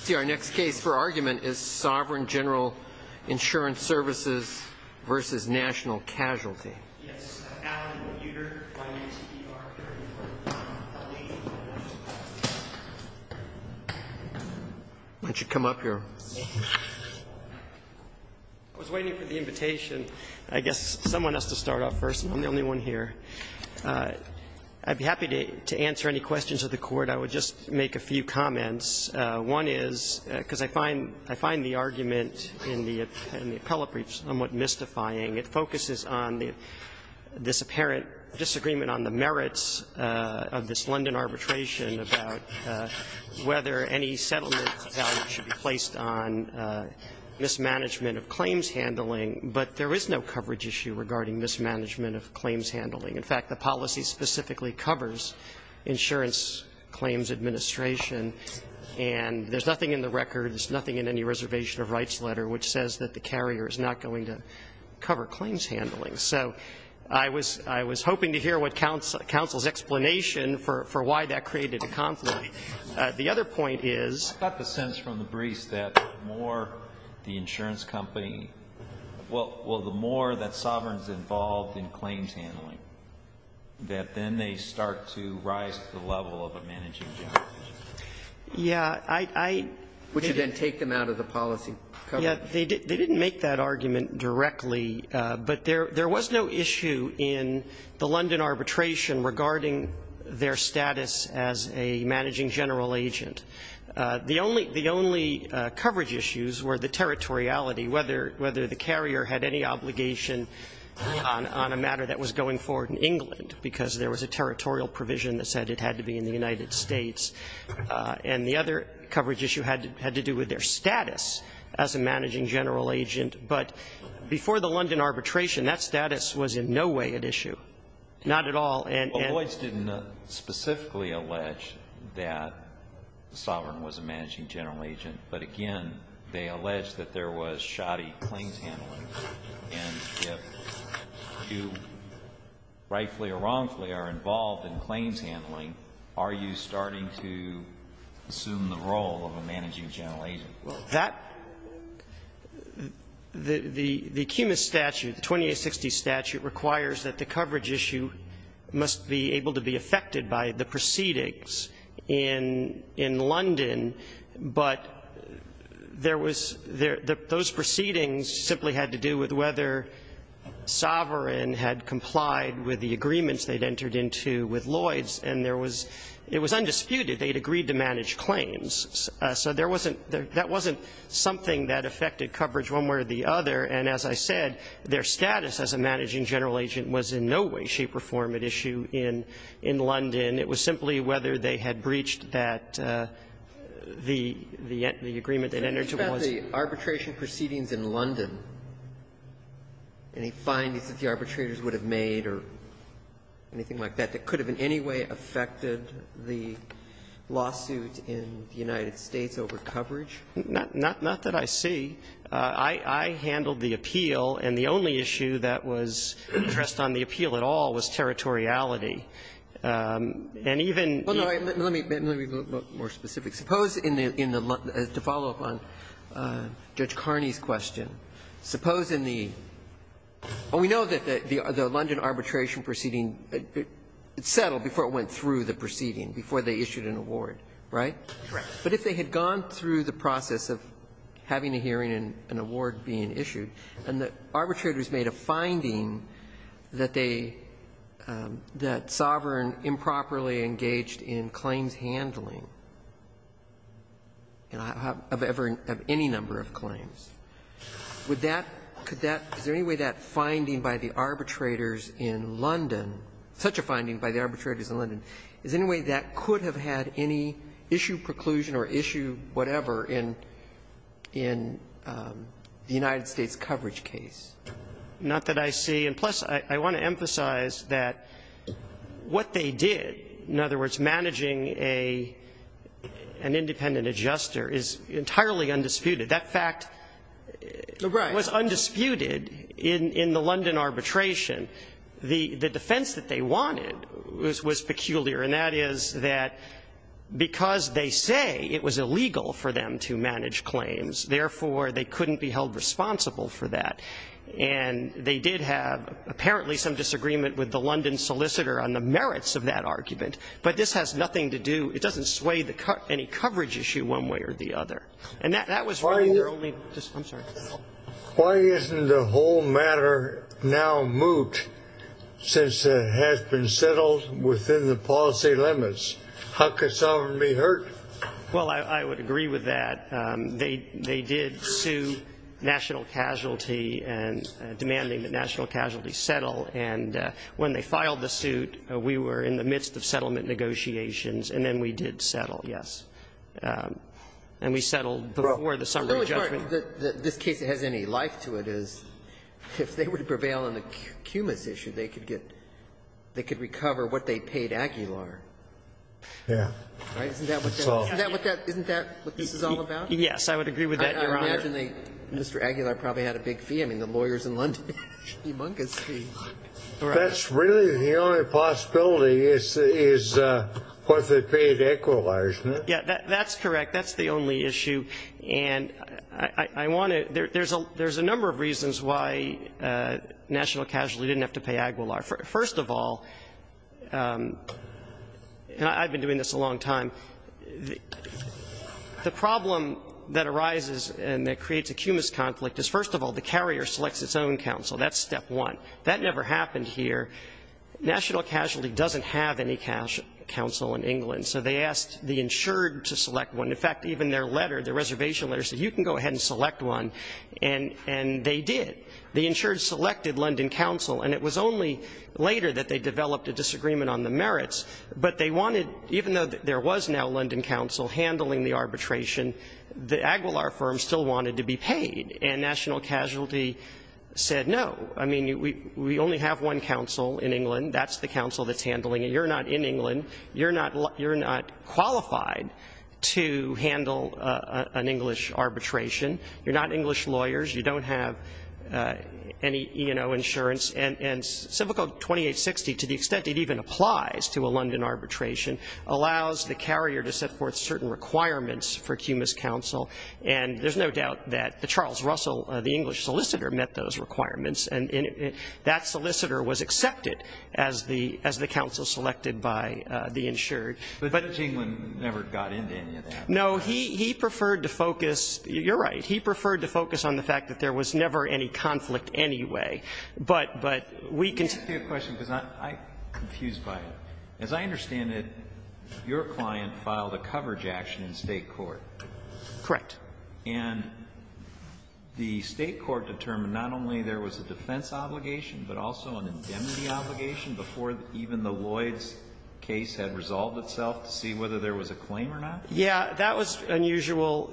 See, our next case for argument is Sovereign General Insurance Services v. National Casualty. Why don't you come up here? I was waiting for the invitation. I guess someone has to start off first, and I'm the only one here. I'd be happy to answer any questions of the Court. I would just make a few comments. One is, because I find the argument in the appellate brief somewhat mystifying, it focuses on this apparent disagreement on the merits of this London arbitration about whether any settlement value should be placed on mismanagement of claims handling, but there is no coverage issue regarding mismanagement of claims handling. In fact, the policy specifically covers Insurance Claims Administration, and there's nothing in the record, there's nothing in any reservation of rights letter, which says that the carrier is not going to cover claims handling. So I was hoping to hear what counsel's explanation for why that created a conflict. The other point is... Well, the more that Sovereign's involved in claims handling, that then they start to rise to the level of a managing general. Would you then take them out of the policy? They didn't make that argument directly, but there was no issue in the London arbitration regarding their status as a managing general agent. The only coverage issues were the territoriality, whether the carrier had any obligation on a matter that was going forward in England, because there was a territorial provision that said it had to be in the United States. And the other coverage issue had to do with their status as a managing general agent. But before the London arbitration, that status was in no way at issue, not at all. Well, Boyce didn't specifically allege that Sovereign was a managing general agent, but, again, they allege that there was shoddy claims handling. And if you rightfully or wrongfully are involved in claims handling, are you starting to assume the role of a managing general agent? That the cumulus statute, the 2860 statute, requires that the coverage issue must be able to be affected by the proceedings in London, but there was those proceedings simply had to do with whether Sovereign had complied with the agreements they'd entered into with Lloyds, and it was undisputed they'd agreed to manage claims. So that wasn't something that affected coverage one way or the other, and as I said, their status as a managing general agent was in no way shape or form at issue in London. It was simply whether they had breached that, the agreement they'd entered into with Lloyds. Roberts. It's about the arbitration proceedings in London. Any findings that the arbitrators would have made or anything like that that could have in any way affected the lawsuit in the United States over coverage? Not that I see. I handled the appeal, and the only issue that was addressed on the appeal at all was territoriality. And even the ---- Well, no. Let me be a little more specific. Suppose in the London ---- to follow up on Judge Carney's question, suppose in the ---- we know that the London arbitration proceeding, it settled before it went through the proceeding, before they issued an award, right? Correct. But if they had gone through the process of having a hearing and an award being issued, and the arbitrators made a finding that they ---- that Sovereign improperly engaged in claims handling of any number of claims, would that ---- could that ---- is there any way that finding by the arbitrators in London, such a finding by the arbitrators in London, is there any way that could have had any issue preclusion or issue whatever in the United States coverage case? Not that I see. And plus, I want to emphasize that what they did, in other words, managing an independent adjuster is entirely undisputed. That fact was undisputed in the London arbitration. The defense that they wanted was peculiar. And that is that because they say it was illegal for them to manage claims, therefore they couldn't be held responsible for that. And they did have apparently some disagreement with the London solicitor on the merits of that argument. But this has nothing to do ---- it doesn't sway any coverage issue one way or the other. And that was really their only ---- I'm sorry. Why isn't the whole matter now moot since it has been settled within the policy limits? How could someone be hurt? Well, I would agree with that. They did sue national casualty and demanding that national casualty settle. And when they filed the suit, we were in the midst of settlement negotiations. And then we did settle, yes. And we settled before the summary judgment. This case has any life to it as if they were to prevail on the Cumas issue, they could get ---- they could recover what they paid Aguilar. Yeah. Right? Isn't that what that ---- isn't that what this is all about? Yes, I would agree with that, Your Honor. I imagine they ---- Mr. Aguilar probably had a big fee. I mean, the lawyers in London pay humongous fees. That's really the only possibility is what they paid Aguilar, isn't it? Yeah, that's correct. That's the only issue. And I want to ---- there's a number of reasons why national casualty didn't have to pay Aguilar. First of all, and I've been doing this a long time, the problem that arises and that creates a Cumas conflict is, first of all, the carrier selects its own counsel. That's step one. That never happened here. National casualty doesn't have any counsel in England. So they asked the insured to select one. In fact, even their letter, their reservation letter said, you can go ahead and select one. And they did. The insured selected London counsel. And it was only later that they developed a disagreement on the merits. But they wanted ---- even though there was now London counsel handling the arbitration, the Aguilar firm still wanted to be paid. And national casualty said no. I mean, we only have one counsel in England. That's the counsel that's handling it. You're not in England. You're not qualified to handle an English arbitration. You're not English lawyers. You don't have any E&O insurance. And Civil Code 2860, to the extent it even applies to a London arbitration, allows the carrier to set forth certain requirements for Cumas counsel. And there's no doubt that Charles Russell, the English solicitor, met those requirements. And that solicitor was accepted as the counsel selected by the insured. But Benjamin never got into any of that. No. He preferred to focus ---- you're right. He preferred to focus on the fact that there was never any conflict anyway. But we can ---- Let me ask you a question because I'm confused by it. As I understand it, your client filed a coverage action in State court. Correct. And the State court determined not only there was a defense obligation, but also an indemnity obligation before even the Lloyds case had resolved itself to see whether there was a claim or not? Yeah. That was unusual.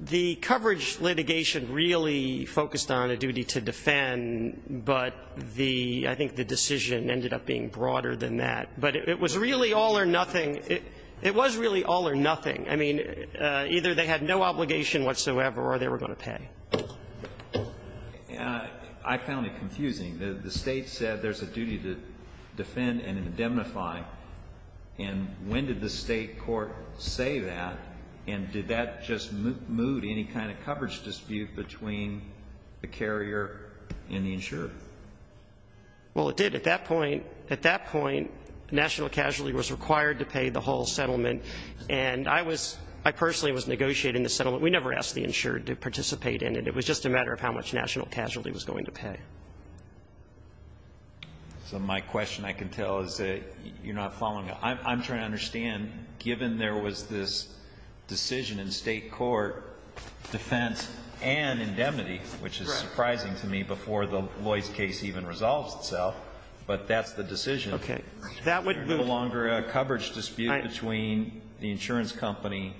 The coverage litigation really focused on a duty to defend. But the ---- I think the decision ended up being broader than that. But it was really all or nothing. It was really all or nothing. I mean, either they had no obligation whatsoever or they were going to pay. I found it confusing. The State said there's a duty to defend and indemnify. And when did the State court say that? And did that just move any kind of coverage dispute between the carrier and the insured? Well, it did. At that point, national casualty was required to pay the whole settlement. And I was ---- I personally was negotiating the settlement. We never asked the insured to participate in it. It was just a matter of how much national casualty was going to pay. So my question, I can tell, is that you're not following. I'm trying to understand, given there was this decision in State court, defense and indemnity, which is surprising to me before the Lloyds case even resolves itself, but that's the decision. Okay. That would move. There was no longer a coverage dispute between the insurance company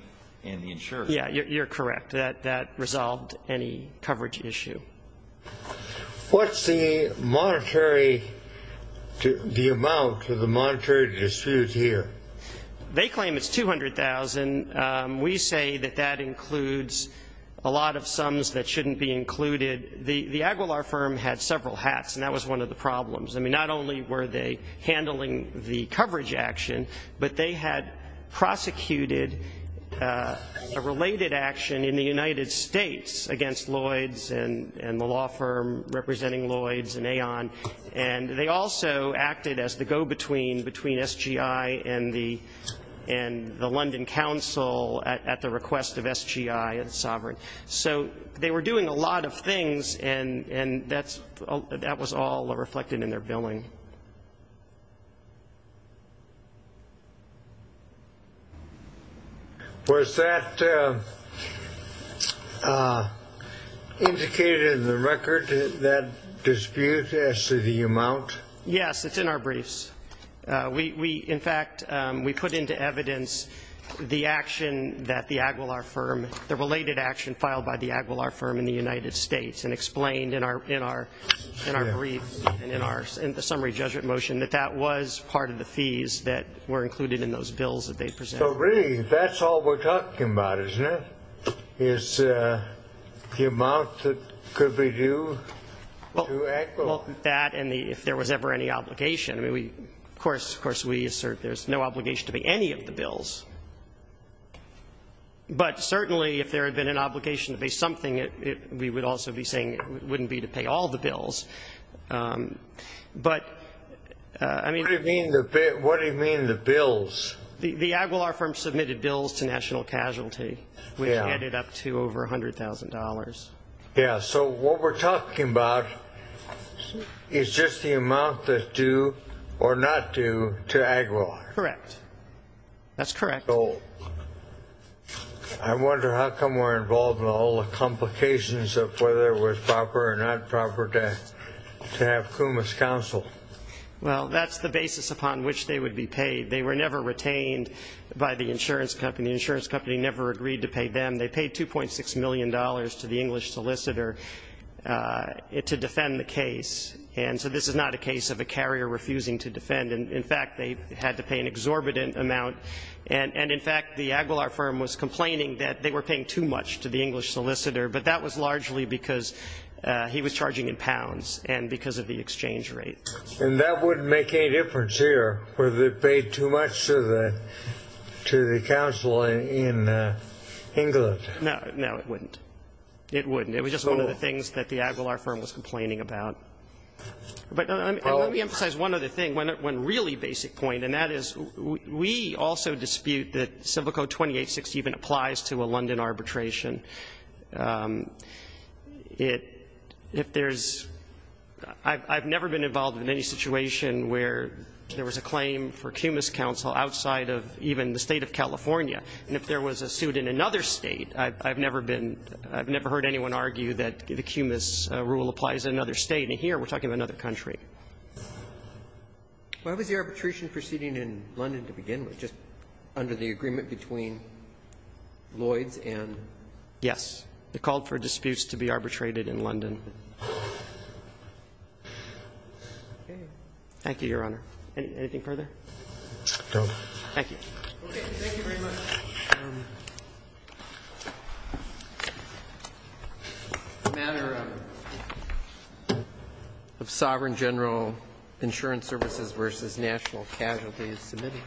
and the insured. Yeah, you're correct. That resolved any coverage issue. What's the monetary ---- the amount of the monetary dispute here? They claim it's $200,000. We say that that includes a lot of sums that shouldn't be included. The Aguilar firm had several hats, and that was one of the problems. I mean, not only were they handling the coverage action, but they had prosecuted a related action in the United States against Lloyds and the law firm representing Lloyds and Aon, and they also acted as the go-between between SGI and the London Council at the request of SGI and Sovereign. So they were doing a lot of things, and that was all reflected in their billing. Was that indicated in the record, that dispute, as to the amount? Yes, it's in our briefs. In fact, we put into evidence the action that the Aguilar firm, the related action filed by the Aguilar firm in the United States, and explained in our brief and in our summary judgment motion that that was part of the fees that were included in those bills that they presented. So really, that's all we're talking about, isn't it, is the amount that could be due to Aguilar? Well, that and if there was ever any obligation. Of course, we assert there's no obligation to pay any of the bills. But certainly, if there had been an obligation to pay something, we would also be saying it wouldn't be to pay all the bills. But, I mean. What do you mean the bills? The Aguilar firm submitted bills to National Casualty, which added up to over $100,000. Yes. So what we're talking about is just the amount that's due or not due to Aguilar. Correct. That's correct. So I wonder how come we're involved in all the complications of whether it was proper or not proper to have CUMA's counsel? Well, that's the basis upon which they would be paid. They were never retained by the insurance company. The insurance company never agreed to pay them. They paid $2.6 million to the English solicitor to defend the case. And so this is not a case of a carrier refusing to defend. In fact, they had to pay an exorbitant amount. And, in fact, the Aguilar firm was complaining that they were paying too much to the English solicitor. But that was largely because he was charging in pounds and because of the exchange rate. And that wouldn't make any difference here, whether they paid too much to the counsel in England. No. No, it wouldn't. It wouldn't. It was just one of the things that the Aguilar firm was complaining about. But let me emphasize one other thing, one really basic point. And that is we also dispute that Civil Code 2860 even applies to a London arbitration. If there's ‑‑ I've never been involved in any situation where there was a claim for CUMA's counsel outside of even the State of California. And if there was a suit in another State, I've never been ‑‑ I've never heard anyone argue that the CUMA's rule applies in another State. And here we're talking about another country. Why was the arbitration proceeding in London to begin with, just under the agreement between Lloyds and ‑‑ Yes. They called for disputes to be arbitrated in London. Okay. Thank you, Your Honor. Anything further? No. Thank you. Okay. Thank you very much. The matter of Sovereign General Insurance Services v. National Casualty is submitted.